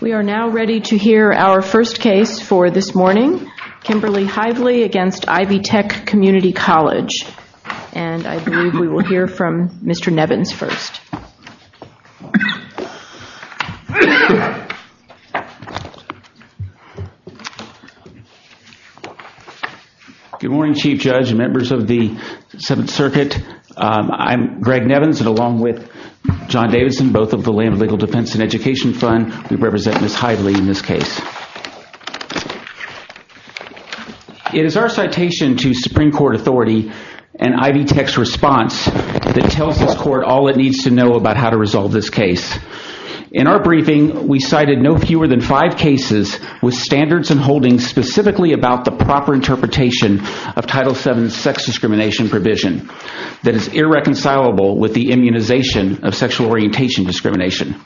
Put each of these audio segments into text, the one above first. We are now ready to hear our first case for this morning. Kimberly Hively against Ivy Tech Community College. And I believe we will hear from Mr. Nevins first. Good morning Chief Judge and members of the Seventh Circuit. I'm Greg Nevins and along with John Davidson both of the Lamb Legal Defense and Education Fund we represent Ms. Hively in this case. It is our citation to Supreme Court authority and Ivy Tech's response that tells this court all it needs to know about how to resolve this case. In our briefing we cited no fewer than five cases with standards and holdings specifically about the proper interpretation of Title VII sex discrimination provision that is irreconcilable with the immunization of sexual orientation discrimination.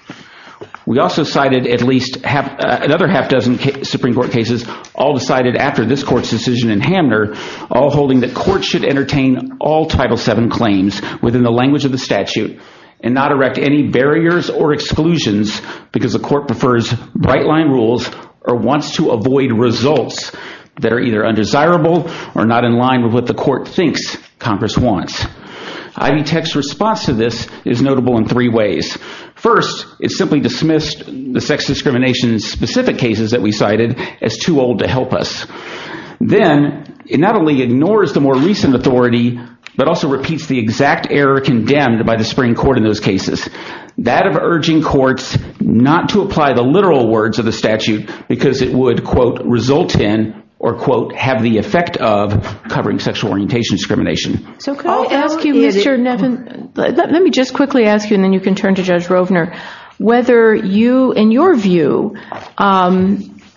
We also cited at least another half dozen Supreme Court cases all decided after this court's decision in Hamner all holding that courts should entertain all Title VII claims within the language of the statute and not erect any barriers or exclusions because the court prefers bright line rules or wants to avoid results that are either undesirable or not in line with what the court thinks Congress wants. Ivy Tech's response to this is notable in three ways. First it simply dismissed the sex discrimination specific cases that we cited as too old to help us. Then it not only ignores the more recent authority but also repeats the exact error condemned by the Supreme Court in those cases. That of urging courts not to apply the literal words of the statute because it would quote result in or quote have the effect of covering sexual orientation discrimination. So can I ask you Mr. Nevin let me just quickly ask you and then you can turn to Judge Rovner whether you in your view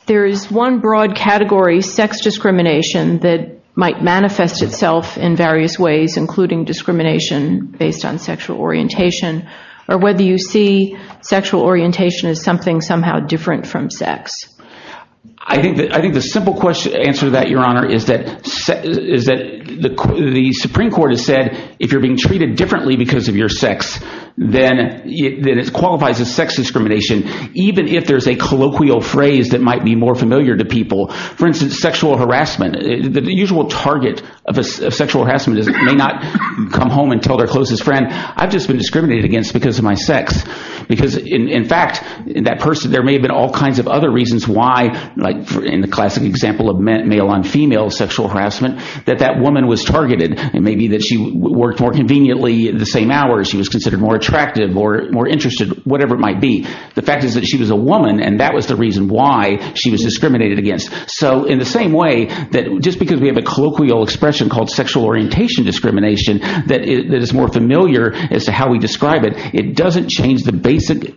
there is one broad category sex discrimination that might manifest itself in various ways including discrimination based on sexual orientation or whether you see sexual orientation as something somehow different from sex? I think that I think the simple question answer that your honor is that is that the the Supreme Court has said if you're being treated differently because of your sex then it qualifies as sex discrimination even if there's a colloquial phrase that might be more familiar to people for instance sexual harassment the usual target of a sexual harassment may not come home and tell their closest friend I've just been discriminated against because of my sex because in fact that person there may have been all kinds of other reasons why like in the classic example of male on female sexual harassment that that woman was targeted and maybe that she worked more conveniently the same hour she was considered more attractive or more interested whatever it might be the fact is that she was a woman and that was the reason why she was discriminated against so in the same way that just because we have a colloquial expression called sexual orientation discrimination that is more familiar as to how we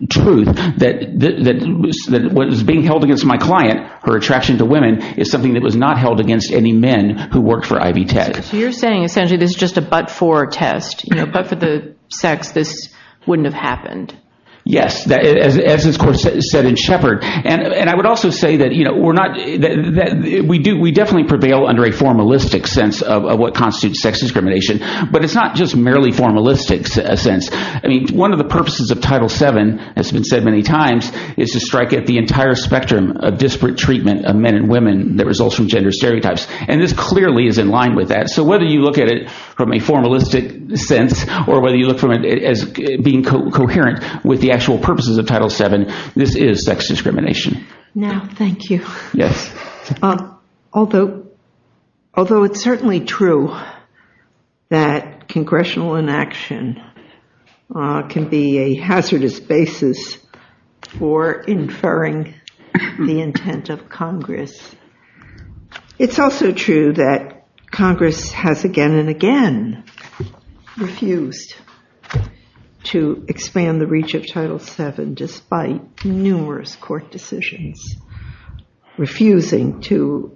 truth that what is being held against my client her attraction to women is something that was not held against any men who worked for Ivy Tech so you're saying essentially this is just a but-for test you know but for the sex this wouldn't have happened yes that as this court said in Shepard and and I would also say that you know we're not that we do we definitely prevail under a formalistic sense of what constitutes sex discrimination but it's not just merely formalistic sense I mean one of the purposes of title seven has been said many times is to strike at the entire spectrum of disparate treatment of men and women that results from gender stereotypes and this clearly is in line with that so whether you look at it from a formalistic sense or whether you look from it as being coherent with the actual purposes of title seven this is sex discrimination now thank you yes although although it's certainly true that congressional inaction can be a hazardous basis for inferring the intent of congress it's also true that congress has again and again refused to expand the reach of title seven despite numerous court decisions refusing to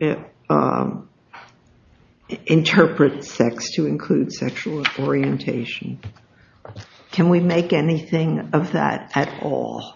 interpret sex to include sexual orientation can we make anything of that at all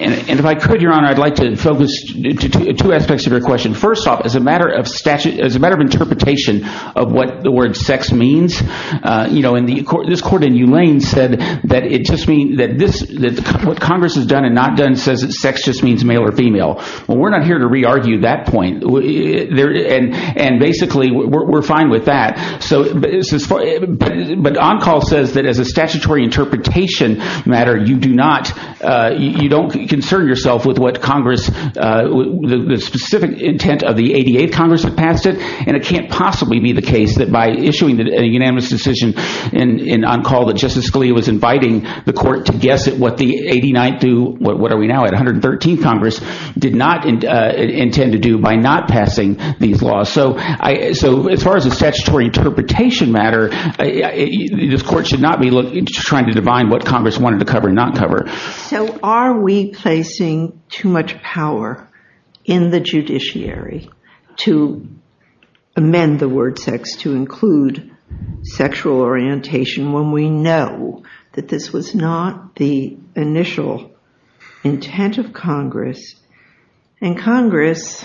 and if I could your honor I'd like to focus two aspects of your question first off as a matter of statute as a matter of interpretation of what the word sex means uh you know in the court this court in u lane said that it just means that this that what congress has done and not done says that sex just means male or female well we're not here to re-argue that point there and and basically we're fine with that so this is but on call says that as a statutory interpretation matter you do not uh you don't concern yourself with what congress uh the specific intent of the 88 congress that passed it and it can't possibly be the case that by issuing a unanimous decision in on call that justice Scalia was inviting the court to guess at what the 89th do what are we now at 113th congress did not intend to do by not passing these laws so I so as far as a statutory interpretation matter this court should not be trying to define what congress wanted to cover and not cover so are we placing too much power in the judiciary to amend the word sex to include sexual orientation when we know that this was not the initial intent of congress and congress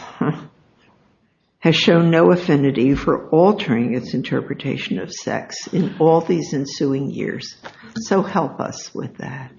has shown no affinity for altering its interpretation of sex in all these ensuing years so help us with that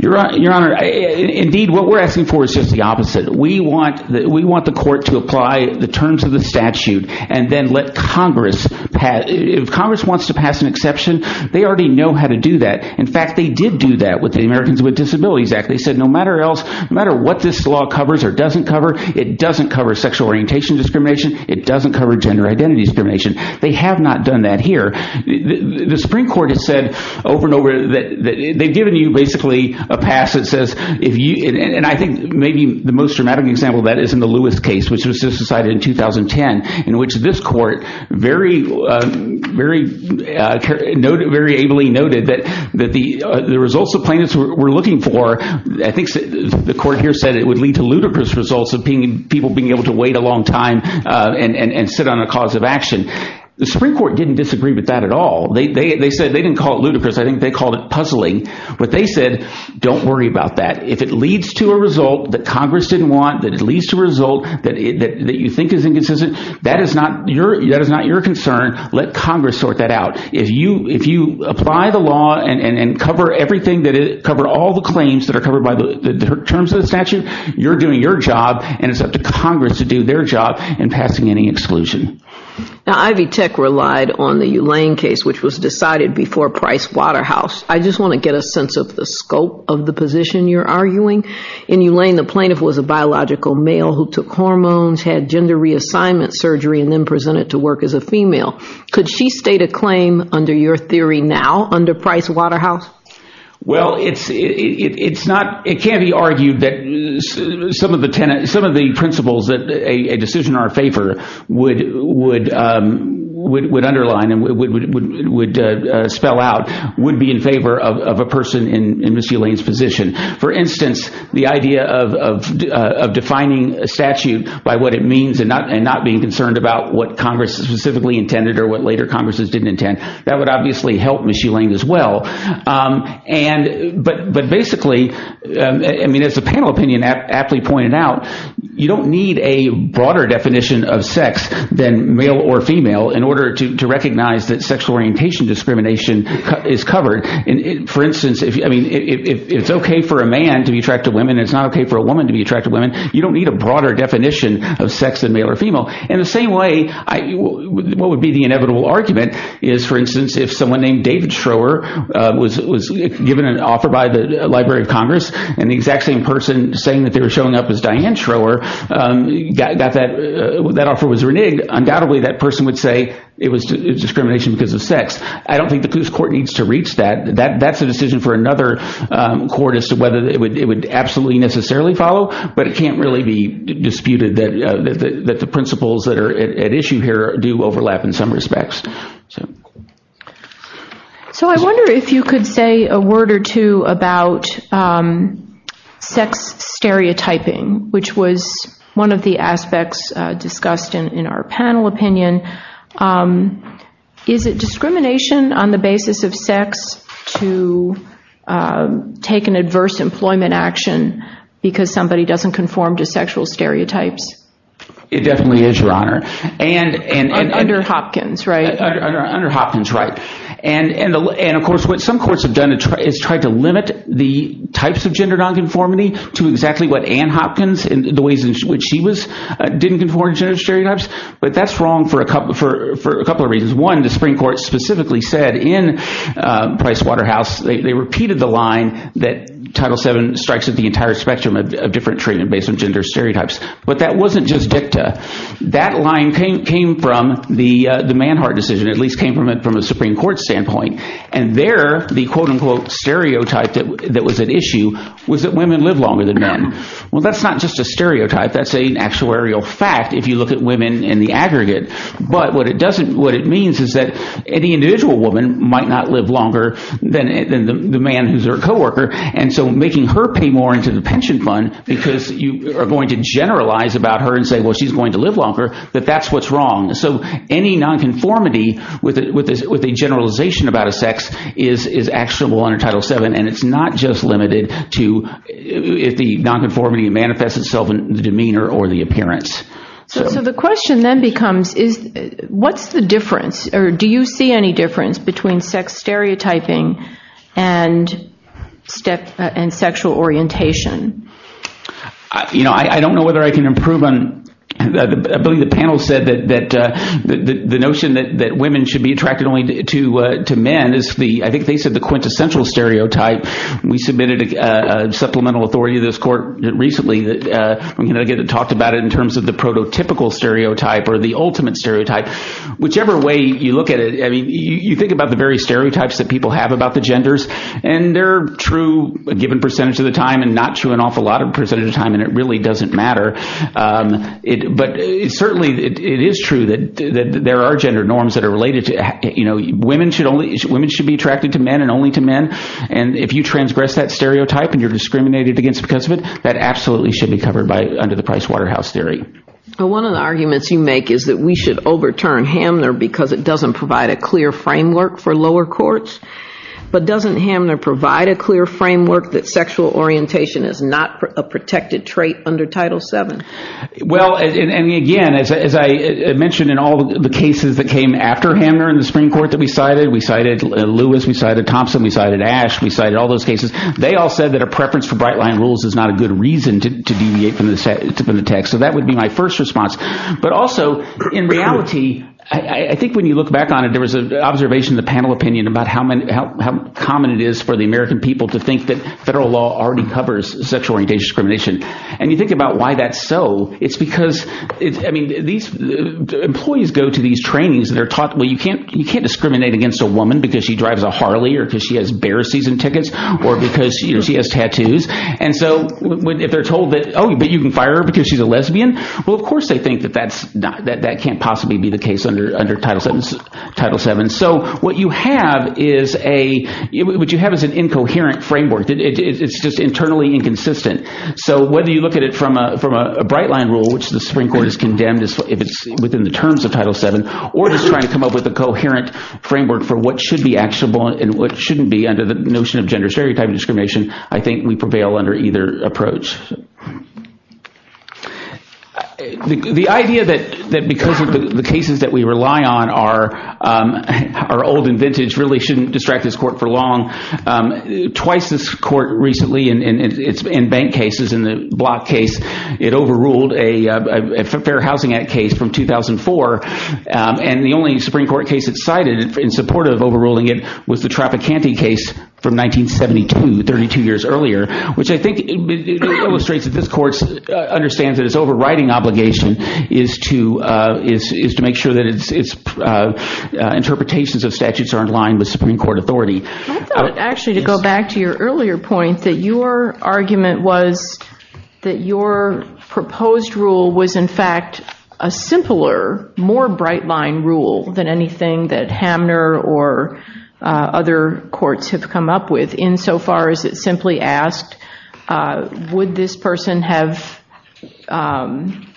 your your honor indeed what we're asking for is just the opposite we want that we want the court to apply the terms of the statute and then let congress pass if congress wants to pass an exception they already know how to do that in fact they did do that with the Americans with Disabilities Act they said no matter else no matter what this law covers or doesn't cover it doesn't cover sexual orientation discrimination it doesn't cover gender identity discrimination they have not done that here the supreme court has said over and over that they've given you basically a pass that says if you and I think maybe the most dramatic example that is the Lewis case which was just decided in 2010 in which this court very very noted very ably noted that that the the results the plaintiffs were looking for i think the court here said it would lead to ludicrous results of being people being able to wait a long time and and sit on a cause of action the supreme court didn't disagree with that at all they they said they didn't call it ludicrous i think they called it puzzling but they said don't worry about that if it leads to a result that congress didn't want that it leads to result that that you think is inconsistent that is not your that is not your concern let congress sort that out if you if you apply the law and and cover everything that it covered all the claims that are covered by the terms of the statute you're doing your job and it's up to congress to do their job and passing any exclusion now ivy tech relied on the u lane case which was decided before price waterhouse i just want to get a sense of the scope of the position you're arguing in u lane the plaintiff was a biological male who took hormones had gender reassignment surgery and then presented to work as a female could she state a claim under your theory now under price waterhouse well it's it's not it can't be argued that some of the tenants some of the principles that a decision in our favor would would um would underline and would would uh spell out would be in favor of of a person in position for instance the idea of of uh of defining a statute by what it means and not and not being concerned about what congress specifically intended or what later congresses didn't intend that would obviously help michelin as well um and but but basically i mean as the panel opinion aptly pointed out you don't need a broader definition of sex than male or female in order to to recognize that sexual orientation discrimination is covered and for instance if i mean it's okay for a man to be attracted women it's not okay for a woman to be attracted women you don't need a broader definition of sex than male or female in the same way i what would be the inevitable argument is for instance if someone named david schroer uh was was given an offer by the library of congress and the exact same person saying that they were showing up as diane schroer um got that that offer was reneged undoubtedly that person would say it was discrimination because of sex i don't think the police court needs to reach that that that's a decision for another um court as to whether it would it would absolutely necessarily follow but it can't really be disputed that that the principles that are at issue here do overlap in some respects so i wonder if you could say a word or two about um sex stereotyping which was one of the aspects uh discussed in in our panel opinion um is it discrimination on the basis of uh taking adverse employment action because somebody doesn't conform to sexual stereotypes it definitely is your honor and and under hopkins right under hopkins right and and and of course what some courts have done is tried to limit the types of gender non-conformity to exactly what ann hopkins and the ways in which she was didn't conform to stereotypes but that's wrong for a couple for for a couple of reasons one the supreme court specifically said in price waterhouse they repeated the line that title 7 strikes at the entire spectrum of different treatment based on gender stereotypes but that wasn't just dicta that line came came from the uh the manhart decision at least came from it from a supreme court standpoint and there the quote-unquote stereotype that that was an issue was that women live longer than men well that's not just a stereotype that's an actuarial fact if you look at women in the aggregate but what it doesn't what it means is that any individual woman might not live longer than the man who's her co-worker and so making her pay more into the pension fund because you are going to generalize about her and say well she's going to live longer that that's what's wrong so any non-conformity with it with this with a generalization about a sex is is actionable under title 7 and it's not just limited to if the non-conformity manifests itself in the demeanor or the appearance so the question then becomes is what's the difference or do you see any difference between sex stereotyping and step and sexual orientation you know i i don't know whether i can improve on i believe the panel said that that uh the notion that that women should be attracted only to uh to men is the i think they said the quintessential stereotype we submitted a supplemental authority to this court recently that uh i'm going to get it talked about it in terms of the prototypical stereotype or the ultimate stereotype whichever way you look at it i mean you think about the various stereotypes that people have about the genders and they're true a given percentage of the time and not true an awful lot of percentage of time and it really doesn't matter um it but it certainly it is true that that there are gender norms that are related to you know women should only women should be attracted to men and only to men and if you transgress that stereotype and you're discriminated against because of it that absolutely should be covered by under the price waterhouse theory well one of the arguments you make is that we should overturn hamner because it doesn't provide a clear framework for lower courts but doesn't hamner provide a clear framework that sexual orientation is not a protected trait under title 7 well and again as i mentioned in all the cases that came after hamner in the spring court that we cited we cited lewis we cited thompson we cited ash we cited all those cases they all said that a preference for bright line rules is not a good reason to deviate from the text so that would be my first response but also in reality i think when you look back on it there was an observation the panel opinion about how many how common it is for the american people to think that federal law already covers sexual orientation discrimination and you think about why that's so it's because it's i mean these employees go to these trainings they're taught well you can't you can't discriminate against a woman because she drives a harley or because she has bear season tickets or because you know she has tattoos and so if they're told that oh but you can fire her because she's a lesbian well of course they think that that's not that that can't possibly be the case under under title 7 title 7 so what you have is a what you have is an incoherent framework it's just internally inconsistent so whether you look at it from a from a bright line rule which the supreme court has condemned if it's within the terms of title 7 or just trying to come up with a coherent framework for what should be actionable and what shouldn't be under the notion of gender stereotype discrimination i think we prevail under either approach the idea that that because of the cases that we rely on are are old and vintage really shouldn't distract this court for long um twice this court recently and it's in bank cases in the block case it overruled a a fair housing act case from 2004 and the only supreme court case it cited in support of overruling it was the traficante case from 1972 32 years earlier which i think illustrates that this court understands that its overriding obligation is to uh is is to make sure that it's it's uh interpretations of statutes are in line with supreme court authority i thought actually to go back to your earlier point that your argument was that your proposed rule was in fact a simpler more bright line rule than anything that hamner or other courts have come up with insofar as it simply asked would this person have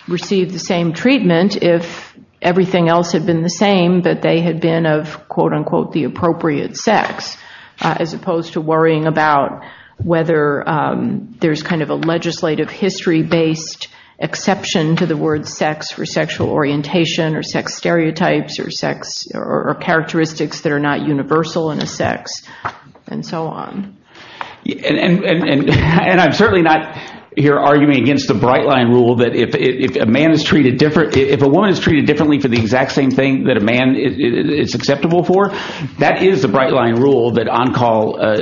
received the same treatment if everything else had been the same but they had been of quote-unquote the appropriate sex as opposed to worrying about whether there's kind of a legislative history based exception to the word sex for sexual orientation or sex stereotypes or sex or characteristics that are not universal in a sex and so on and and and i'm certainly not here arguing against the bright line rule that if if a man is treated different if a woman is treated differently for the exact same thing that a man is acceptable for that is the bright line rule that on call uh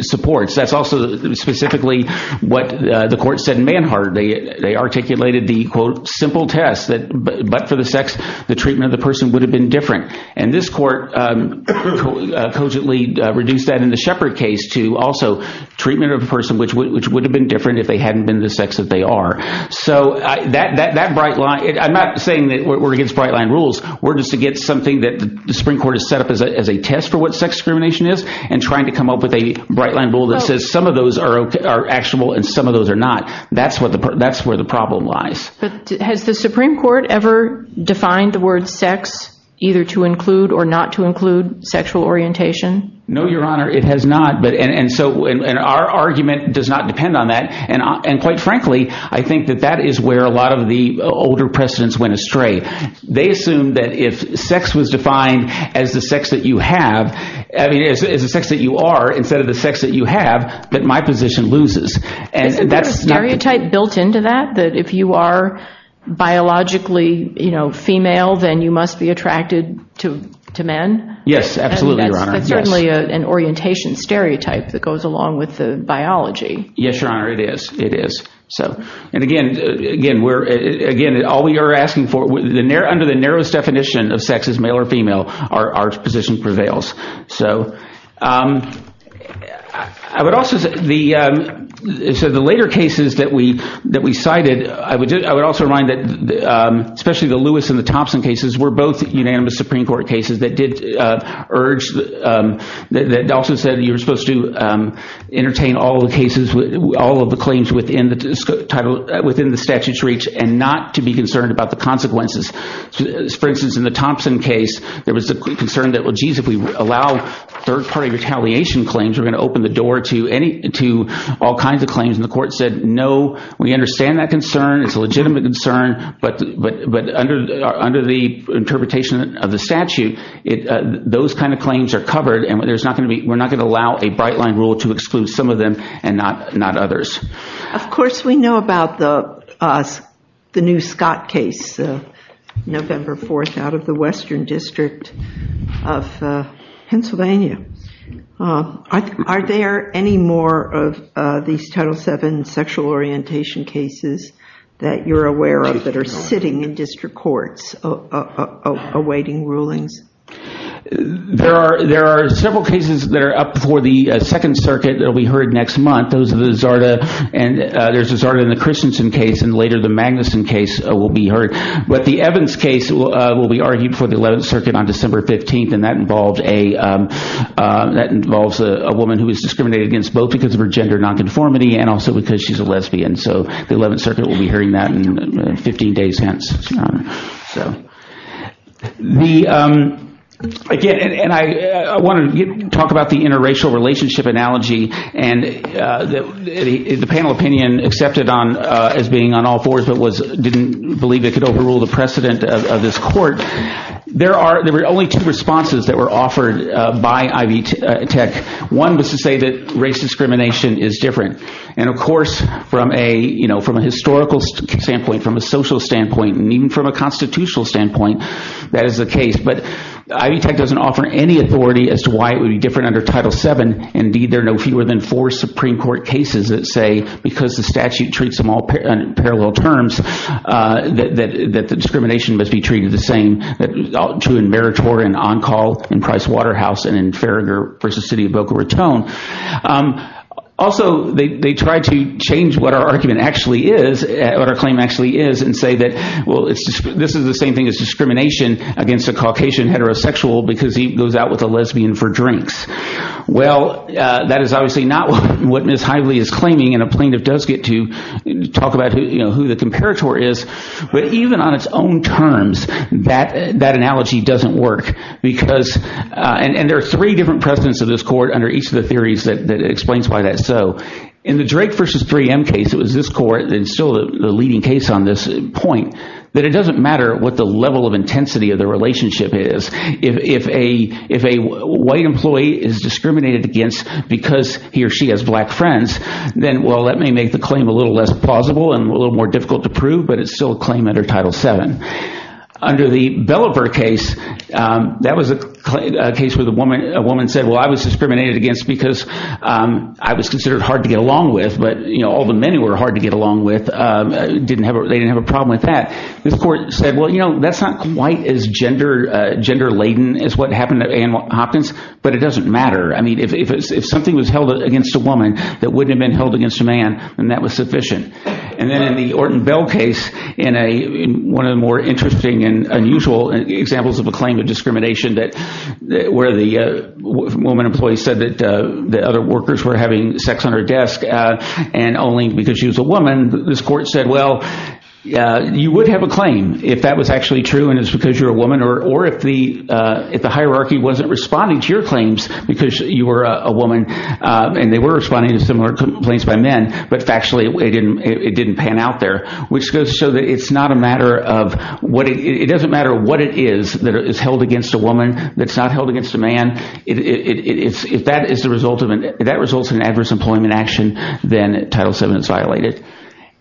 supports that's also specifically what uh the court said in manhard they they articulated the quote test that but for the sex the treatment of the person would have been different and this court um cogently reduced that in the shepherd case to also treatment of a person which which would have been different if they hadn't been the sex that they are so i that that bright line i'm not saying that we're against bright line rules we're just to get something that the supreme court is set up as a test for what sex discrimination is and trying to come up with a bright line rule that says some of those are are actionable and some of those are not that's what the that's where the problem lies but has the supreme court ever defined the word sex either to include or not to include sexual orientation no your honor it has not but and so and our argument does not depend on that and and quite frankly i think that that is where a lot of the older precedents went astray they assumed that if sex was defined as the sex that you have i mean as a sex that you are instead of the sex that you have that my position loses and that's a stereotype built into that that if you are biologically you know female then you must be attracted to to men yes absolutely that's certainly an orientation stereotype that goes along with the biology yes your honor it is it is so and again again we're again all we are asking for the near under the narrowest definition of sex is male or female our our position prevails so um i would also the um so the later cases that we that we cited i would i would also remind that um especially the lewis and the thompson cases were both unanimous supreme court cases that did uh urge um that also said you were supposed to um entertain all the cases with all of the claims within the title within the statute's reach and not to be concerned about the consequences for instance in the thompson case there was a concern that well jeez if we allow third-party retaliation claims we're going to open the door to any to all kinds of claims and the court said no we understand that concern it's a legitimate concern but but but under under the interpretation of the statute it uh those kind of claims are covered and there's not going to be we're not going to allow a bright line rule to exclude some of them and not not others of course we know about the the new scott case november 4th out of the western district of pennsylvania uh are there any more of uh these title 7 sexual orientation cases that you're aware of that are sitting in district courts awaiting rulings there are there are several cases that are up for the second circuit that will be heard next month those of the zarda and uh there's a zarda in the christensen case and later the magnuson case will be heard but the evans case will be argued for the 11th circuit on december 15th and that involved a that involves a woman who is discriminated against both because of her gender non-conformity and also because she's a lesbian so the 11th circuit will be hearing that in 15 days hence so the um again and i i want to talk about the interracial relationship analogy and uh the the panel opinion accepted on uh as being on all fours but was didn't believe it could overrule the precedent of this court there are there were only two responses that were offered uh by ivy tech one was to say that race discrimination is different and of course from a you know from a historical standpoint from a social standpoint and even from a constitutional standpoint that is the case but ivy tech doesn't offer any authority as to why it would be different under title 7 indeed there are no fewer than four supreme court cases that say because the statute treats them all parallel terms uh that that the discrimination must be treated the same that true in meritor and on call in price waterhouse and in farragher versus city of boca raton um also they they try to change what our argument actually is what our claim actually is and say that well it's this is the same thing as discrimination against a caucasian heterosexual because he goes out with a lesbian for drinks well uh that is obviously not what miss highly is claiming and a plaintiff does get to talk about who you know who the comparator is but even on its own terms that that analogy doesn't work because uh and there are three different precedents of this court under each of the theories that explains why that so in the drake versus 3m case it was this court and still the leading case on this point that it doesn't matter what the level of intensity of the relationship is if if a if a white employee is discriminated against because he or she has black friends then well that may make the claim a little less plausible and a little more difficult to prove but it's still a claim under title 7 under the bellever case um that was a case where the woman a woman said well i was discriminated against because um i was considered hard to get along with but you know all the men who were hard to get along with um didn't have they didn't have a problem with that this court said well you know that's not quite as gender uh gender laden as what happened at ann hopkins but it doesn't matter i mean if it's if against a woman that wouldn't have been held against a man and that was sufficient and then in the orton bell case in a one of the more interesting and unusual examples of a claim of discrimination that where the uh woman employee said that the other workers were having sex on her desk uh and only because she was a woman this court said well uh you would have a claim if that was actually true and it's because you're a woman or or if the uh if the hierarchy wasn't responding to your claims because you were a woman uh and they were responding to similar complaints by men but factually it didn't it didn't pan out there which goes to show that it's not a matter of what it doesn't matter what it is that is held against a woman that's not held against a man it it's if that is the result of it that results in adverse employment action then title 7 is violated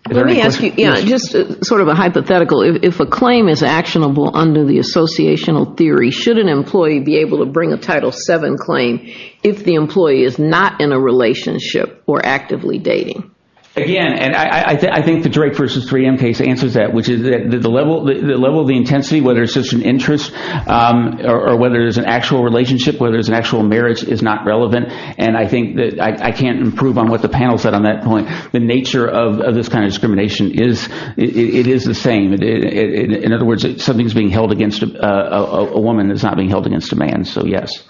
let me ask you yeah just sort of a hypothetical if a claim is actionable under the associational theory should an employee be able to bring a title 7 claim if the employee is not in a relationship or actively dating again and i i think the drake versus 3m case answers that which is that the level the level of the intensity whether it's just an interest um or whether it's an actual relationship whether it's an actual marriage is not relevant and i think that i can't improve on what the panel said on that point the nature of this kind of discrimination is it is the same in other words something's held against a woman that's not being held against a man so yes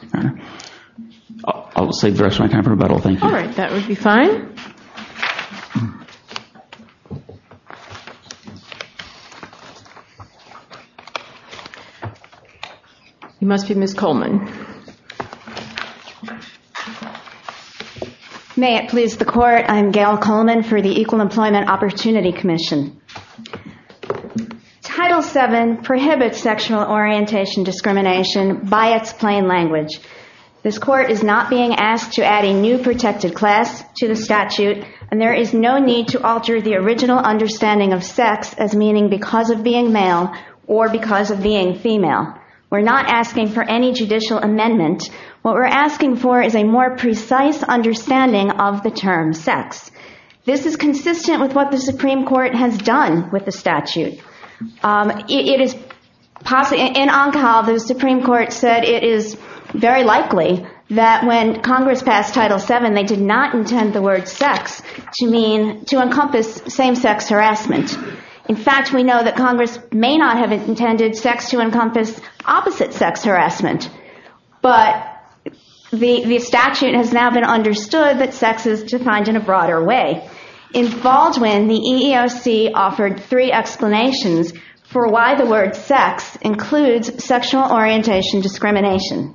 i'll save the rest of my time for rebuttal thank you all right that would be fine you must be miss coleman may it please the court i'm gail coleman for the equal employment opportunity commission title 7 prohibits sexual orientation discrimination by its plain language this court is not being asked to add a new protected class to the statute and there is no need to alter the original understanding of sex as meaning because of being male or because of being female we're not asking for any judicial amendment what we're asking for is a more precise understanding of the term sex this is consistent with what the supreme court has done with the statute um it is possibly in on call the supreme court said it is very likely that when congress passed title 7 they did not intend the word sex to mean to encompass same-sex harassment in fact we know that congress may not have intended sex to encompass opposite sex harassment but the the statute has now been understood that sex is defined in a broader way involved when the eeoc offered three explanations for why the word sex includes sexual orientation discrimination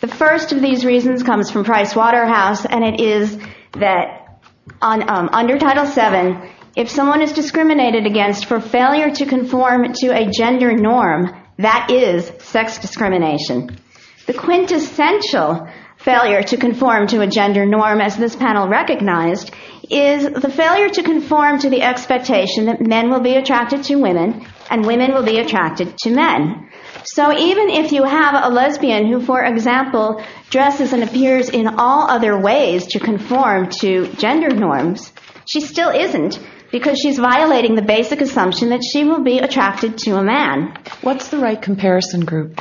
the first of these reasons comes from price waterhouse and it is that on um under title 7 if someone is discriminated against for failure to conform to a gender norm that is sex discrimination the quintessential failure to conform to a gender norm as this panel recognized is the failure to conform to the expectation that men will be attracted to women and women will be attracted to men so even if you have a lesbian who for example dresses and appears in all other ways to conform to gender norms she still isn't because she's violating the basic assumption that she will be attracted to a man what's the right comparison group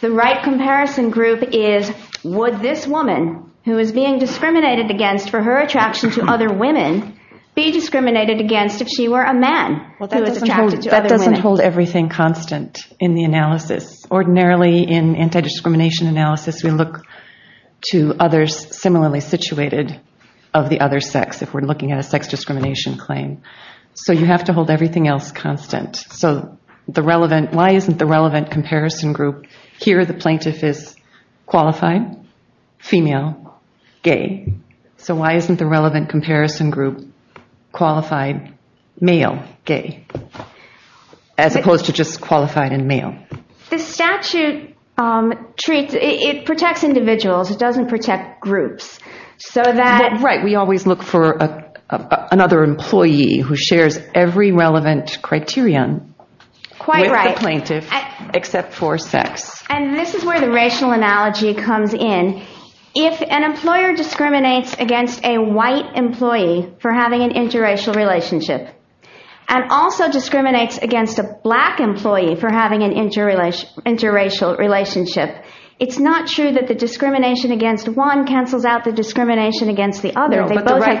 the right comparison group is would this woman who is being discriminated against for her attraction to other women be discriminated against if she were a man well that doesn't hold everything constant in the analysis ordinarily in anti-discrimination analysis we look to others similarly situated of the other sex if we're looking at a sex discrimination claim so you have to hold everything else constant so the relevant why isn't the relevant comparison group here the plaintiff is qualified female gay so why isn't the relevant comparison group qualified male gay as opposed to just qualified in male the statute um treats it protects individuals it doesn't protect groups so that right we always look for a another employee who shares every relevant criterion quite right plaintiff except for sex and this is where the racial analogy comes in if an employer discriminates against a white employee for having an interracial relationship and also discriminates against a black employee for having an interrelation interracial relationship it's not true that the discrimination against one cancels out the discrimination against the other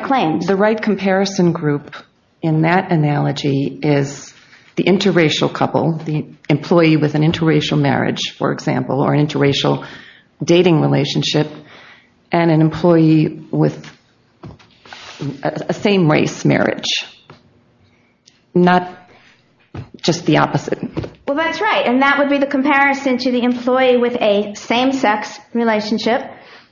claims the right comparison group in that analogy is the interracial couple the employee with an interracial marriage for example or an interracial dating relationship and an employee with a same race marriage not just the opposite well that's right and that would be the comparison to the employee with a same sex relationship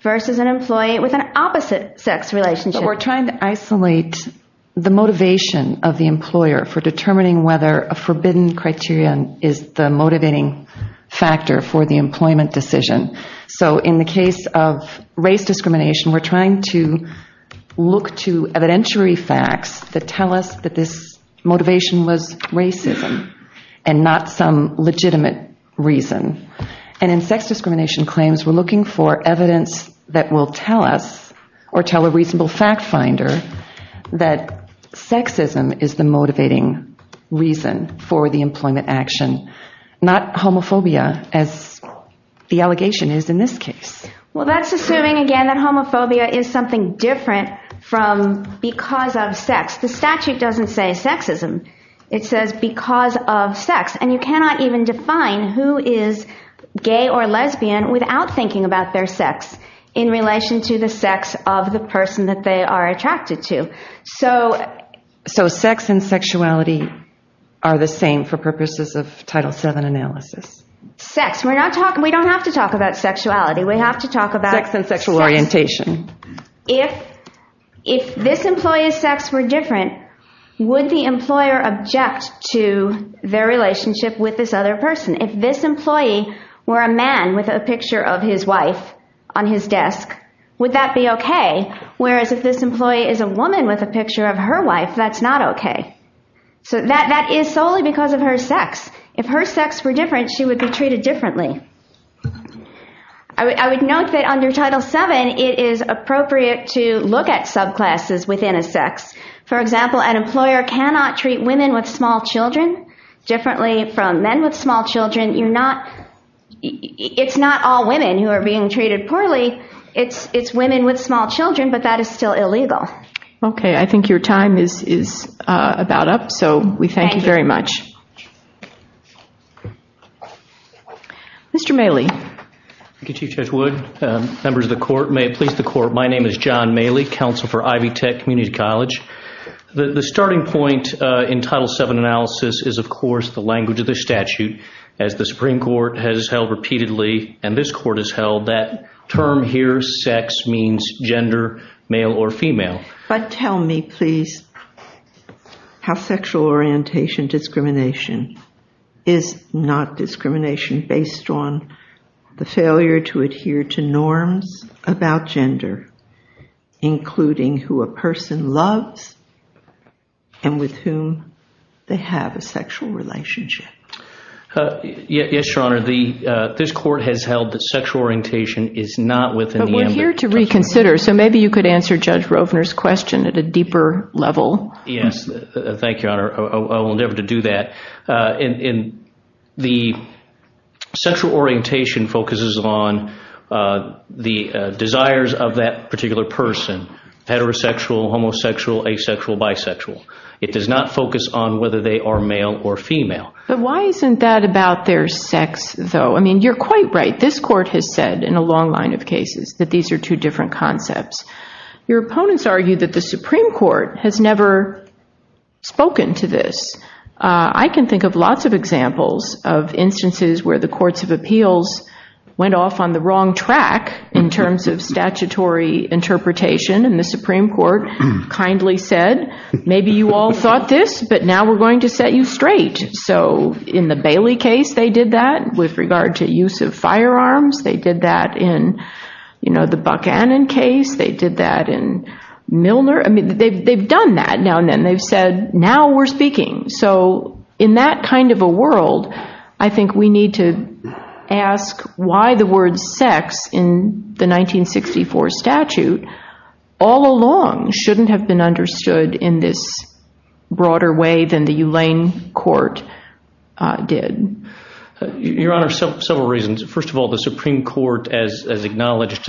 versus an employee with an opposite sex relationship we're trying to isolate the motivation of the employer for determining whether a forbidden criterion is the motivating factor for the employment decision so in the case of race discrimination we're trying to look to evidentiary facts that tell us that this or tell a reasonable fact finder that sexism is the motivating reason for the employment action not homophobia as the allegation is in this case well that's assuming again that homophobia is something different from because of sex the statute doesn't say sexism it says because of sex and you cannot even define who is gay or lesbian without thinking about their sex in relation to the sex of the person that they are attracted to so so sex and sexuality are the same for purposes of title 7 analysis sex we're not talking we don't have to talk about sexuality we have to talk about sex and sexual orientation if if this employee's sex were different would the employer object to their relationship with this other person if this employee were a man with a picture of his wife on his desk would that be okay whereas if this employee is a woman with a picture of her wife that's not okay so that that is solely because of her sex if her sex were different she would be treated differently i would note that under title 7 it is appropriate to look at subclasses within a sex for example an employer cannot treat women with small children differently from men with small children you're not it's not all women who are being treated poorly it's it's women with small children but that is still illegal okay i think your time is is about up so we thank you very much Mr. Maley Thank you Chief Judge Wood members of the court may it please the court my name is John Maley counsel for Ivy Tech Community College the starting point in title 7 analysis is of course the language of the statute as the supreme court has held repeatedly and this court has held that term here sex means gender male or female but tell me please how sexual orientation discrimination is not discrimination based on the failure to adhere to norms about gender including who a person loves and with whom they have a sexual relationship yes your honor the this court has held that sexual orientation is not within but we're here to reconsider so maybe you could answer Judge Rovner's question at a deeper level yes thank you honor i will endeavor to do that in the sexual orientation focuses on the desires of that particular person heterosexual homosexual asexual bisexual it does not focus on whether they are male or female but why isn't that about their sex though i mean you're quite right this court has said in a long line of cases that these are two different concepts your opponents argue that the supreme court has never spoken to this i can think of lots of examples of instances where the courts of appeals went off on the wrong track in terms of statutory interpretation and the supreme court kindly said maybe you all thought this but now we're going to set you straight so in the Bailey case they did that with regard to use of firearms they did that in you know the Buckhannon case they did that in Milner i mean they've they've done that now and then they've said now we're speaking so in that kind of a world i think we need to ask why the word sex in the 1964 statute all along shouldn't have been understood in this broader way than the Ulane court did your honor several reasons first of all the supreme court as as acknowledged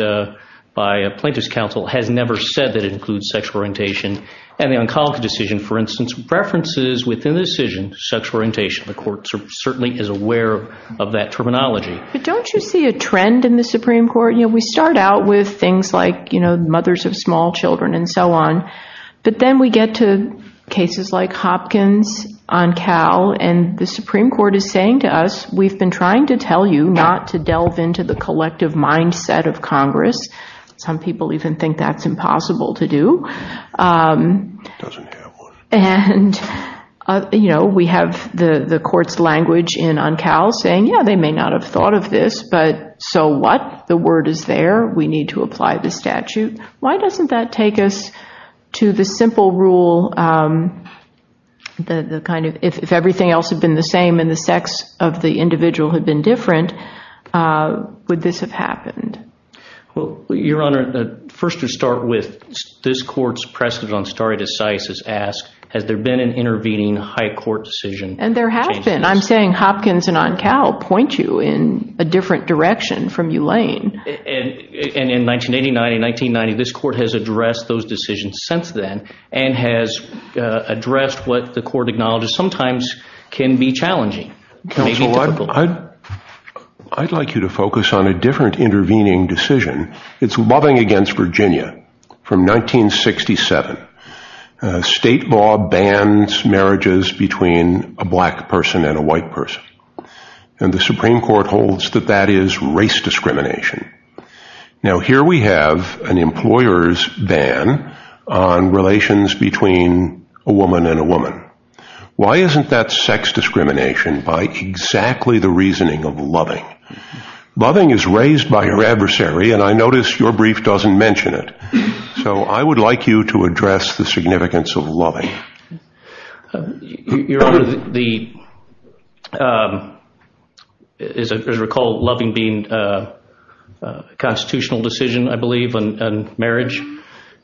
by a plaintiff's counsel has never said that includes sexual orientation and the oncology decision for instance references within the decision sexual orientation the court certainly is aware of that terminology but don't you see a trend in the supreme court you know we start out with things like you know mothers of small children and so on but then we get to cases like hopkins on cal and the supreme court is saying to us we've been trying to tell you not to delve into the collective mindset of congress some people even think that's impossible to do and you know we have the the court's language in on cal saying yeah they may not have thought of this but so what the word is there we need to apply the statute why doesn't that take us to the simple rule um the the kind of if everything else had been the same and the sex of the individual had been different uh would this have happened well your honor first to start with this court's precedent on stare decisis asked has there been an intervening high court decision and there have been i'm saying hopkins and on cal point you in a different direction from ulane and and in 1989 1990 this court has addressed those decisions since then and has addressed what the court acknowledges sometimes can be challenging maybe i'd like you to focus on a different intervening decision it's loving against virginia from 1967 state law bans marriages between a black person and a white person and the supreme court holds that that is race discrimination now here we have an employer's ban on relations between a woman and a woman why isn't that sex discrimination by exactly the reasoning of loving loving is raised by her adversary and i notice your brief doesn't mention it so i would like you to address the constitutional decision i believe on marriage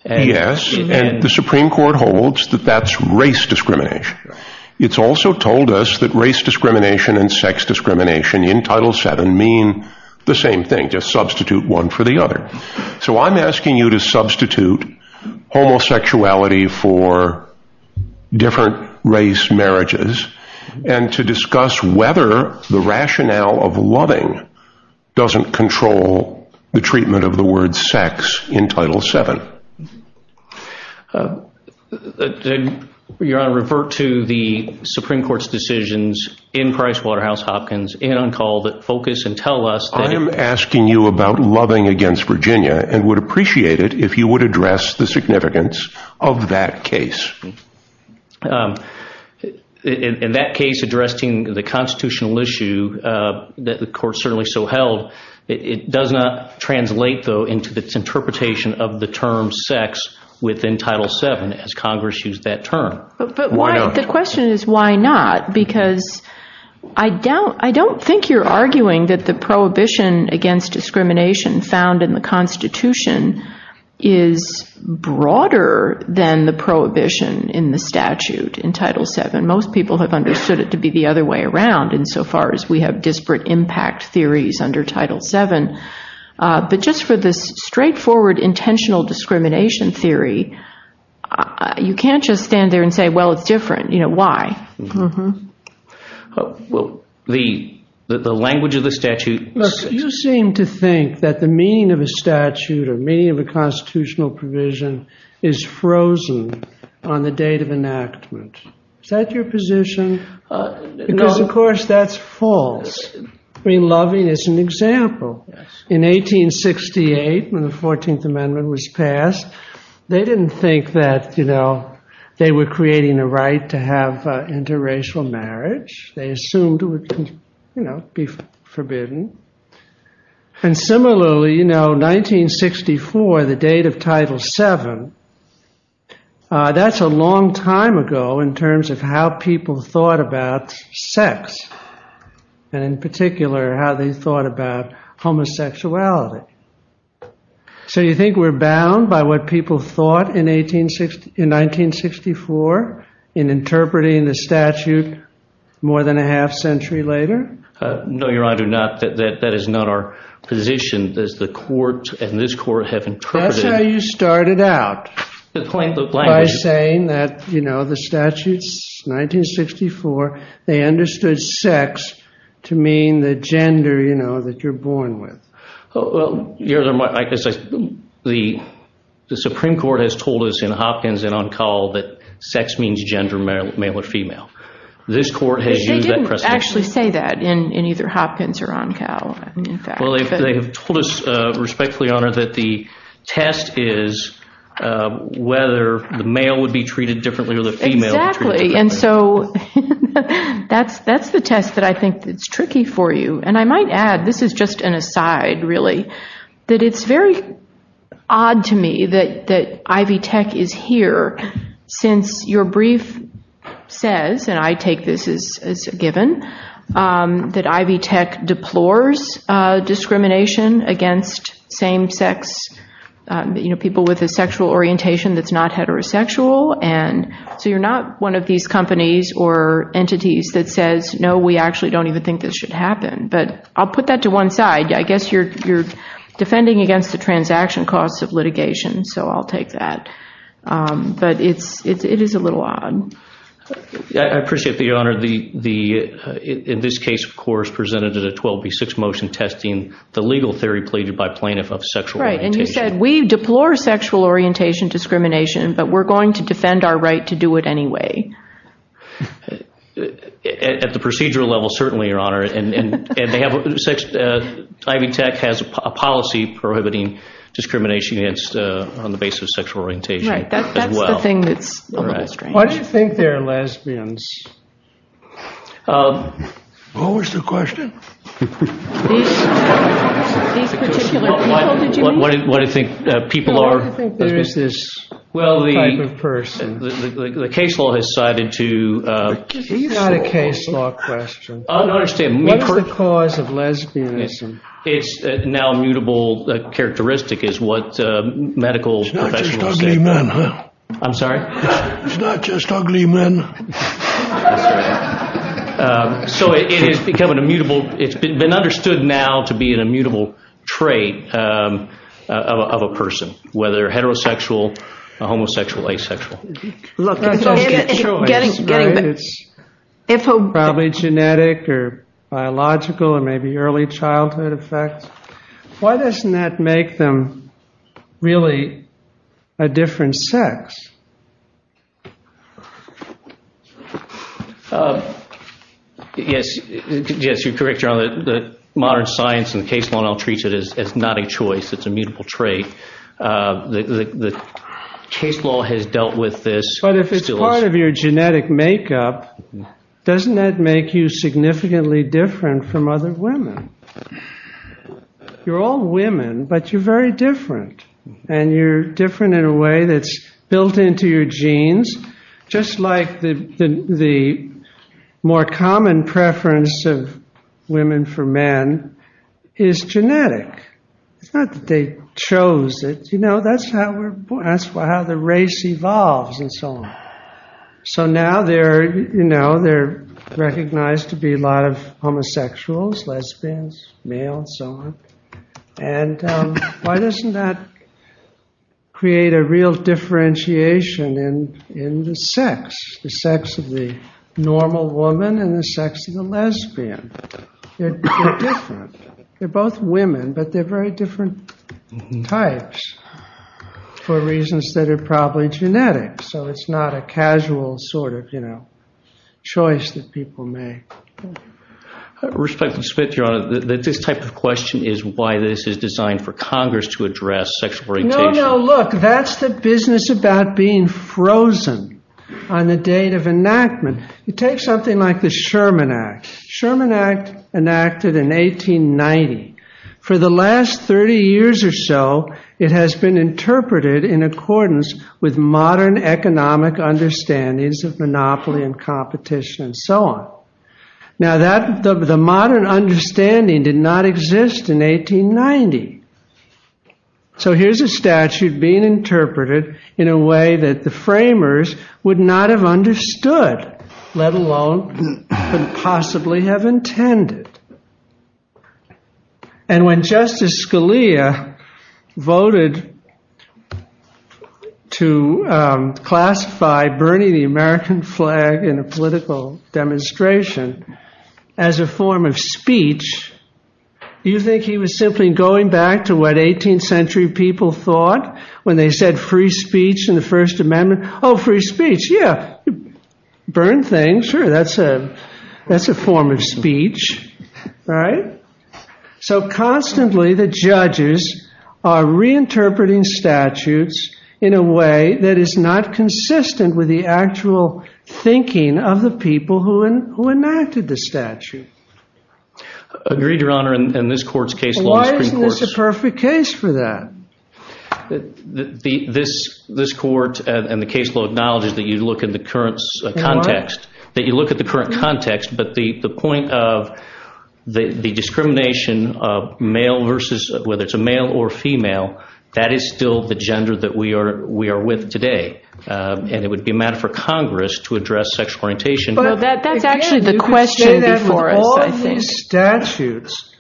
yes and the supreme court holds that that's race discrimination it's also told us that race discrimination and sex discrimination in title seven mean the same thing just substitute one for the other so i'm asking you to substitute homosexuality for different race marriages and to discuss whether the rationale of loving doesn't control the treatment of the word sex in title seven your honor refer to the supreme court's decisions in pricewaterhousehopkins and on call that focus and tell us i am asking you about loving against virginia and would appreciate it if you would address the significance of that case in that case addressing the constitutional issue uh that the court certainly so held it does not translate though into its interpretation of the term sex within title seven as congress used that term but why the question is why not because i don't i don't think you're arguing that the prohibition against discrimination found in the constitution is broader than the prohibition in the statute in title seven most people have disparate impact theories under title seven but just for this straightforward intentional discrimination theory you can't just stand there and say well it's different you know why well the the language of the statute you seem to think that the meaning of a statute or meaning of a constitutional provision is frozen on the date of enactment is that your position because of that's false i mean loving is an example in 1868 when the 14th amendment was passed they didn't think that you know they were creating a right to have interracial marriage they assumed it would you know be forbidden and similarly you know 1964 the date of title seven uh that's a long time ago in terms of how people thought about sex and in particular how they thought about homosexuality so you think we're bound by what people thought in 1860 in 1964 in interpreting the statute more than a half century later uh no your honor not that that is not our position does the court and this court have interpreted that's how you started out by saying that you know the statutes 1964 they understood sex to mean the gender you know that you're born with oh well you're like the supreme court has told us in hopkins and on call that sex means gender male or female this court has they didn't actually say that in in either hopkins or on cow well they have told us uh respectfully honor that the test is uh whether the male would be treated differently or the female exactly and so that's that's the test that i think it's tricky for you and i might add this is just an aside really that it's very odd to me that that ivy is here since your brief says and i take this as as a given um that ivy tech deplores uh discrimination against same-sex um you know people with a sexual orientation that's not heterosexual and so you're not one of these companies or entities that says no we actually don't even think this should happen but i'll put that to one side i guess you're you're defending against the um but it's it is a little odd i appreciate the honor the the in this case of course presented at 12b6 motion testing the legal theory pleaded by plaintiff of sexual right and you said we deplore sexual orientation discrimination but we're going to defend our right to do it anyway at the procedural level certainly your honor and and they have sex uh ivy tech has a policy prohibiting discrimination against uh on the basis of sexual orientation right that's the thing that's a little strange why do you think they're lesbians um what was the question these particular people did you what do you think people are i think there is this well the type of person the case law has cited to uh it's not a case law question i don't understand what is the the characteristic is what uh medical professionals i'm sorry it's not just ugly men so it has become an immutable it's been understood now to be an immutable trait um of a person whether heterosexual a homosexual asexual look it's probably genetic or biological or maybe early childhood effects why doesn't that make them really a different sex yes yes you're correct john the modern science and the case law i'll treat it as it's not a trait uh the the case law has dealt with this but if it's part of your genetic makeup doesn't that make you significantly different from other women you're all women but you're very different and you're different in a way that's built into your genes just like the the more common preference of women for men is genetic it's not that they chose it you know that's how we're that's how the race evolves and so on so now they're you know they're recognized to be a lot of homosexuals lesbians male and so on and why doesn't that create a real differentiation in in the sex the sex of the normal woman and the sex of the lesbian they're different they're both women but they're very different types for reasons that are probably genetic so it's not a casual sort of you know choice that people make respect and spit your honor that this type of question is why this is designed for congress to address sexual orientation no no look that's the business about being frozen on the date of enactment you take something like the sherman act sherman act enacted in 1890 for the last 30 years or so it has been interpreted in accordance with modern economic understandings of monopoly and competition and so on now that the modern understanding did not exist in 1890 so here's a statute being interpreted in a way that the framers would not have understood let alone could possibly have intended and when justice scalia voted to classify burning the american flag in a political demonstration as a form of speech you think he was simply going back to what 18th century people thought when they said free speech in the first amendment oh free speech yeah burn things sure that's a that's a form of speech right so constantly the judges are reinterpreting statutes in a way that is not consistent with the why isn't this the perfect case for that the the this this court and the caseload acknowledges that you look in the current context that you look at the current context but the the point of the the discrimination of male versus whether it's a male or female that is still the gender that we are we are with today and it would be a matter for congress to address sexual that that's actually the question before us i think statutes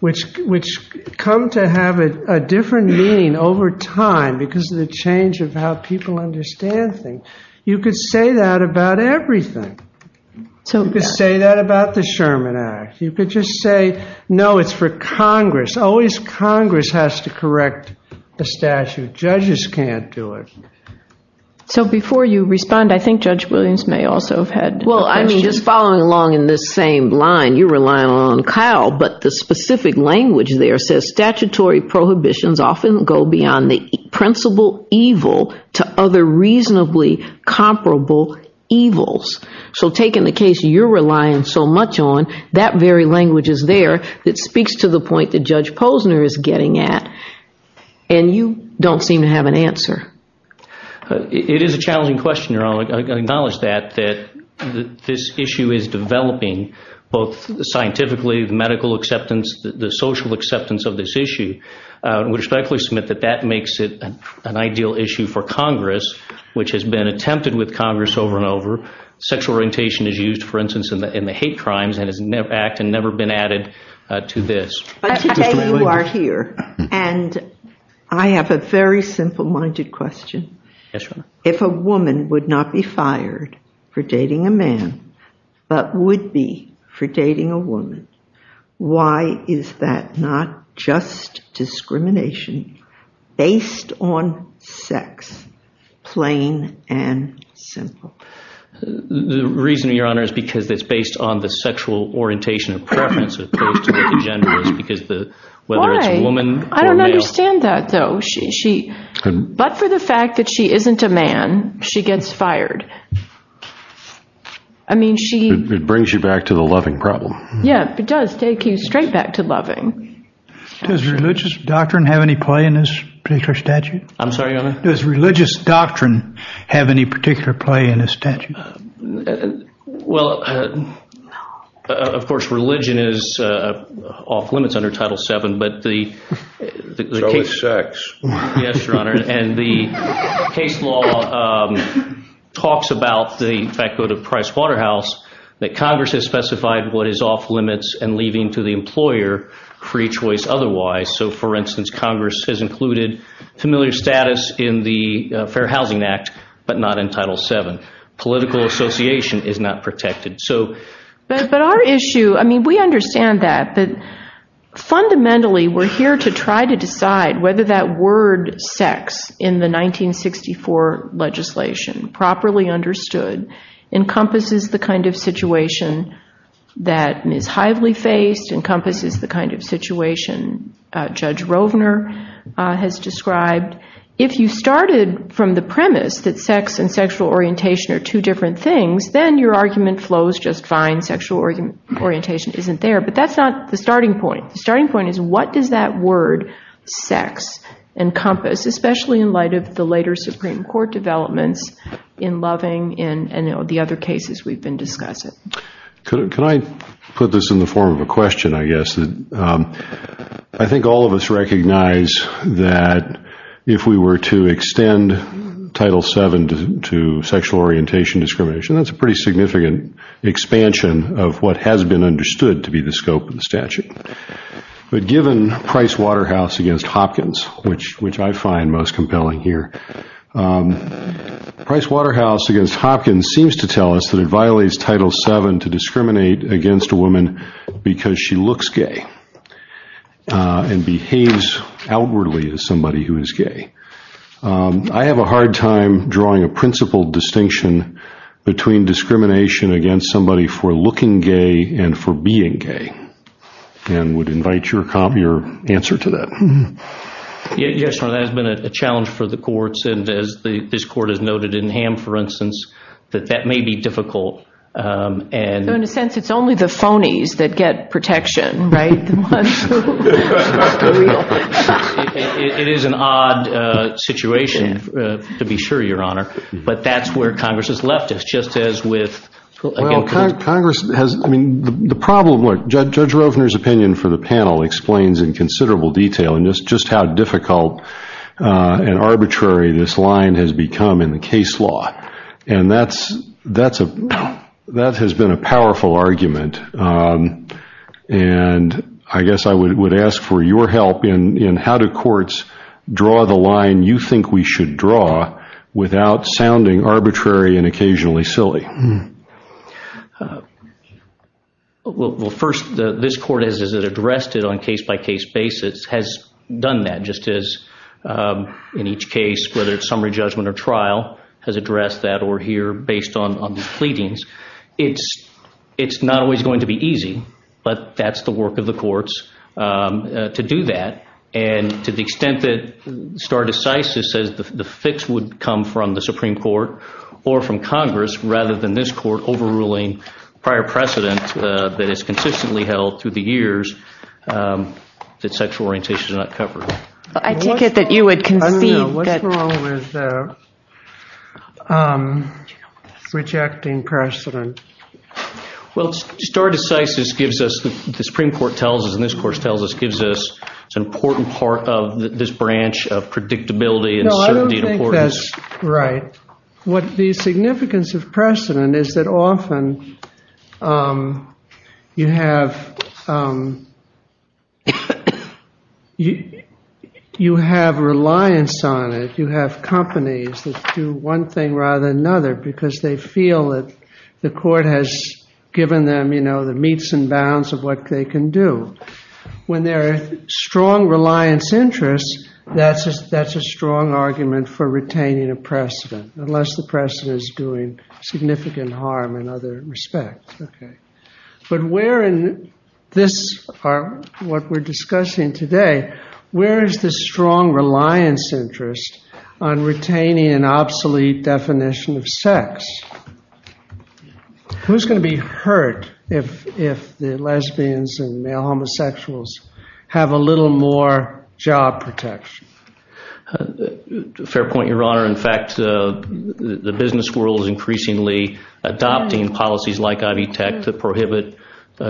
which which come to have a different meaning over time because of the change of how people understand things you could say that about everything so you could say that about the sherman act you could just say no it's for congress always congress has to correct the statute judges can't do it so before you respond i think judge williams may also have had well i mean just following along in this same line you're relying on kyle but the specific language there says statutory prohibitions often go beyond the principal evil to other reasonably comparable evils so taking the case you're relying so much on that very language is there that speaks to the point that judge posner is getting at and you don't seem to have an answer it is a challenging question your honor i acknowledge that that this issue is developing both scientifically the medical acceptance the social acceptance of this issue uh which likely submit that that makes it an ideal issue for congress which has been attempted with congress over and over sexual orientation is used for instance in the in the hate crimes and has never acted never been added uh to this okay you are here and i have a very simple-minded question yes if a woman would not be fired for dating a man but would be for dating a woman why is that not just discrimination based on sex plain and simple the reason your honor is because it's based on the sexual orientation of preference as opposed because the whether it's a woman i don't understand that though she she but for the fact that she isn't a man she gets fired i mean she it brings you back to the loving problem yeah it does take you straight back to loving does religious doctrine have any play in this particular statute i'm sorry does religious doctrine have any particular play in a statute and well of course religion is uh off limits under title seven but the the case yes your honor and the case law um talks about the fact go to price waterhouse that congress has specified what is off limits and leaving to the employer free choice otherwise so for instance congress has included familiar status in the fair housing act but not in title seven political association is not protected so but but our issue i mean we understand that but fundamentally we're here to try to decide whether that word sex in the 1964 legislation properly understood encompasses the kind of situation that ms hively faced encompasses the kind of situation uh judge rovner uh has described if you started from the premise that sex and sexual orientation are two different things then your argument flows just fine sexual argument orientation isn't there but that's not the starting point the starting point is what does that word sex encompass especially in light of the later supreme court developments in loving in and the other cases we've been discussing could i put this in the form of a question i guess that i think all of us recognize that if we were to extend title seven to sexual orientation discrimination that's a pretty significant expansion of what has been understood to be the scope of the statute but given price waterhouse against hopkins which which i find most compelling here um price waterhouse against hopkins seems to tell us that it violates title seven to discriminate against a woman because she looks gay and behaves outwardly as somebody who is gay i have a hard time drawing a principled distinction between discrimination against somebody for looking gay and for being gay and would invite your cop your answer to that yes that has been a challenge for the courts and as the this court has noted in ham for instance that that may be difficult um and in a sense it's only the phonies that get protection right it is an odd uh situation uh to be sure your honor but that's where congress has left us just as with congress has i mean the problem what judge rovner's opinion for the panel explains in considerable detail and just just how difficult uh and arbitrary this line has become in the case law and that's that's a that has been a powerful argument um and i guess i would ask for your help in in how do courts draw the line you think we should draw without sounding arbitrary and has done that just as um in each case whether it's summary judgment or trial has addressed that or here based on on the pleadings it's it's not always going to be easy but that's the work of the courts to do that and to the extent that star decisive says the fix would come from the supreme court or from congress rather than this court overruling prior precedent that is consistently held through the years that sexual orientation is not covered i take it that you would concede rejecting precedent well star decisive gives us the supreme court tells us and this course tells us gives us it's an important part of this branch of predictability and certainty right what the significance of precedent is that often um you have um you have reliance on it you have companies that do one thing rather than another because they feel that the court has given them you know the meats and bounds of what they can do when there are strong reliance interests that's a that's a strong argument for retaining a precedent unless the precedent is doing significant harm in other respects okay but where in this are what we're discussing today where is the strong reliance interest on retaining an obsolete definition of sex who's going to be hurt if if the lesbians and male homosexuals have a little more job protection fair point your honor in fact the business world is increasingly adopting policies like ivy tech that prohibit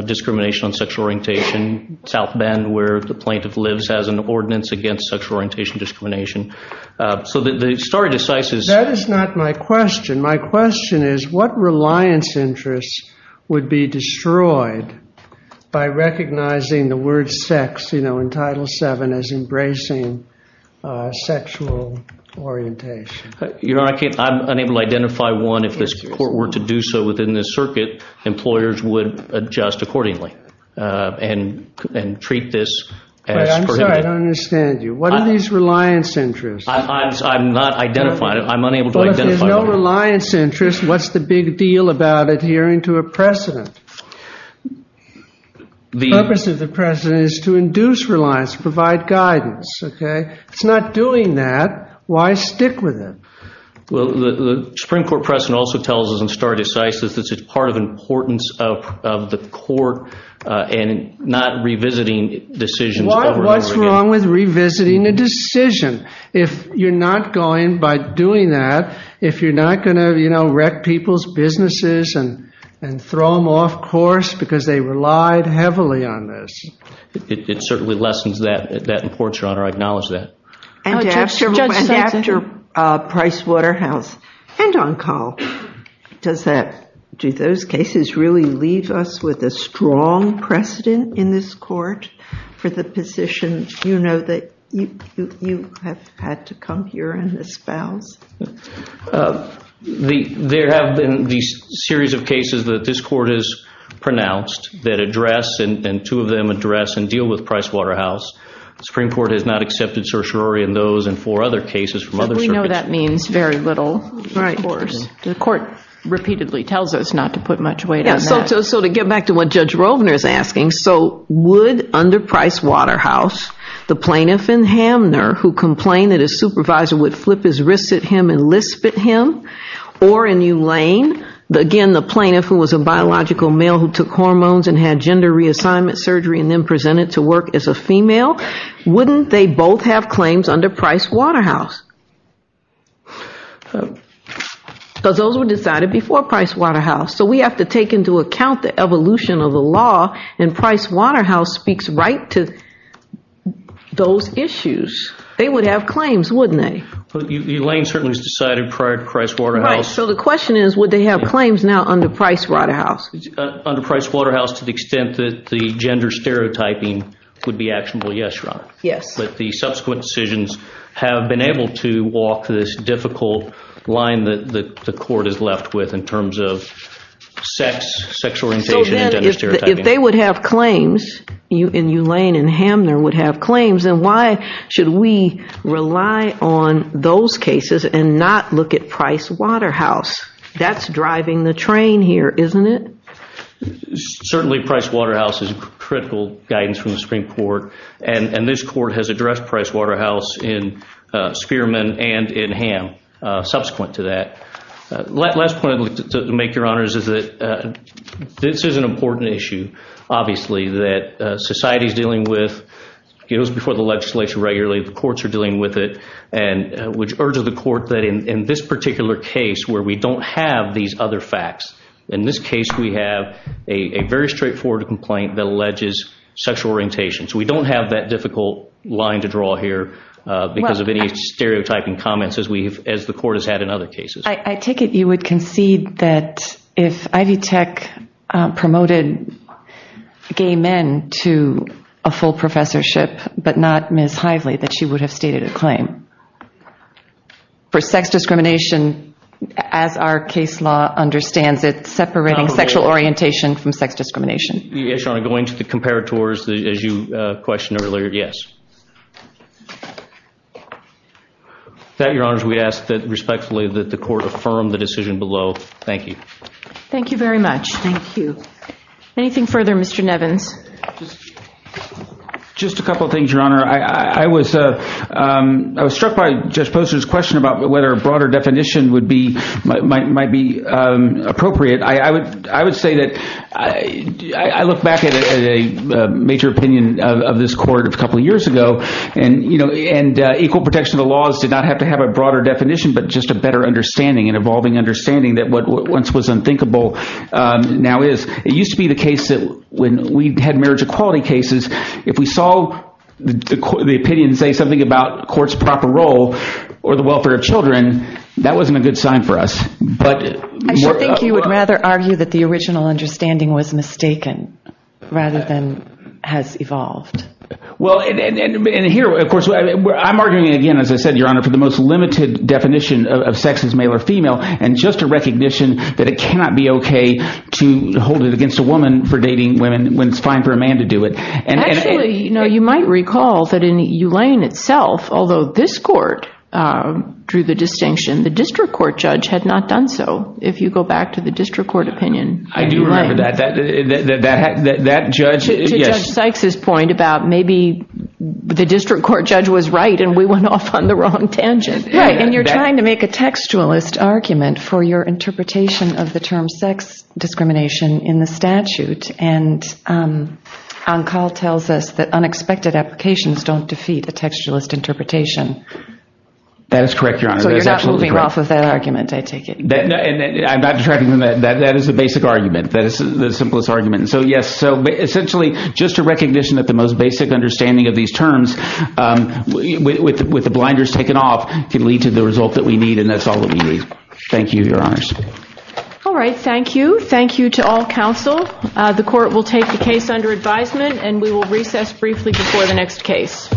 discrimination on sexual orientation south bend where the plaintiff lives has an ordinance against sexual orientation discrimination so the story decisive that is not my question my question is what reliance interests would be destroyed by recognizing the word sex you know in title seven as embracing sexual orientation you know i can't i'm unable to identify one if this court were to do so within this circuit employers would adjust accordingly uh and and treat this as i'm sorry i don't interest i'm not identifying it i'm unable to identify no reliance interest what's the big deal about adhering to a precedent the purpose of the president is to induce reliance provide guidance okay it's not doing that why stick with it well the supreme court precedent also tells us in star decisive this is part of importance of of the court uh and not revisiting decisions what's with revisiting a decision if you're not going by doing that if you're not going to you know wreck people's businesses and and throw them off course because they relied heavily on this it certainly lessens that that important your honor i acknowledge that and after uh price waterhouse and on call does that do those cases really leave us with a strong precedent in this for the position you know that you you have had to come here and espouse the there have been these series of cases that this court has pronounced that address and two of them address and deal with price waterhouse supreme court has not accepted certiorari in those and four other cases from other we know that means very little right of course the court repeatedly tells us not to put much weight on that so to get back to what judge rovner is asking so would under price waterhouse the plaintiff in hamner who complained that his supervisor would flip his wrists at him and lisp at him or in euline the again the plaintiff who was a biological male who took hormones and had gender reassignment surgery and then presented to work as a female wouldn't they both have claims under price waterhouse because those were decided before price waterhouse so we have to take into account the evolution of law and price waterhouse speaks right to those issues they would have claims wouldn't they but euline certainly was decided prior to price waterhouse so the question is would they have claims now under price waterhouse under price waterhouse to the extent that the gender stereotyping would be actionable yes right yes but the subsequent decisions have been able to walk this difficult line that the court is left with in terms of sex sexual orientation if they would have claims you in euline and hamner would have claims then why should we rely on those cases and not look at price waterhouse that's driving the train here isn't it certainly price waterhouse is critical guidance from the supreme court and and this court has addressed price waterhouse in spearman and in ham subsequent to that last point i'd like to make your honors is that this is an important issue obviously that society is dealing with goes before the legislation regularly the courts are dealing with it and which urges the court that in in this particular case where we don't have these other facts in this case we have a very straightforward complaint that alleges sexual orientation so we don't have that difficult line to draw here because of any stereotyping comments as we've as the court has had in other cases i take it you would concede that if ivy tech promoted gay men to a full professorship but not ms hively that she would have stated a claim for sex discrimination as our case law understands it separating sexual orientation from sex discrimination yes your honor going to the comparators as you uh questioned earlier yes that your honors we ask that respectfully that the court affirm the decision below thank you thank you very much thank you anything further mr nevins just a couple of things your honor i i was uh um i was struck by judge poster's question about whether a broader definition would be might might be um appropriate i i would i would say that i i look back at a major opinion of this court a couple years ago and you know and equal protection of the laws did not have to have a broader definition but just a better understanding and evolving understanding that what once was unthinkable um now is it used to be the case that when we had marriage equality cases if we saw the opinion say something about court's proper role or the welfare of children that wasn't a good sign for us but i think you would rather argue that the original understanding was mistaken rather than has evolved well and and here of i'm arguing again as i said your honor for the most limited definition of sex is male or female and just a recognition that it cannot be okay to hold it against a woman for dating women when it's fine for a man to do it and actually you know you might recall that in ulane itself although this court uh drew the distinction the district court judge had not done so if you go back to the district court opinion i do remember that that that that judge to judge sykes's point about maybe the right and we went off on the wrong tangent right and you're trying to make a textualist argument for your interpretation of the term sex discrimination in the statute and um on call tells us that unexpected applications don't defeat a textualist interpretation that is correct your honor so you're not moving off of that argument i take it and i'm not detracting from that that that is the basic argument that is the simplest argument and so yes so essentially just to with with the blinders taken off can lead to the result that we need and that's all that we need thank you your honors all right thank you thank you to all council uh the court will take the case under advisement and we will recess briefly before the next case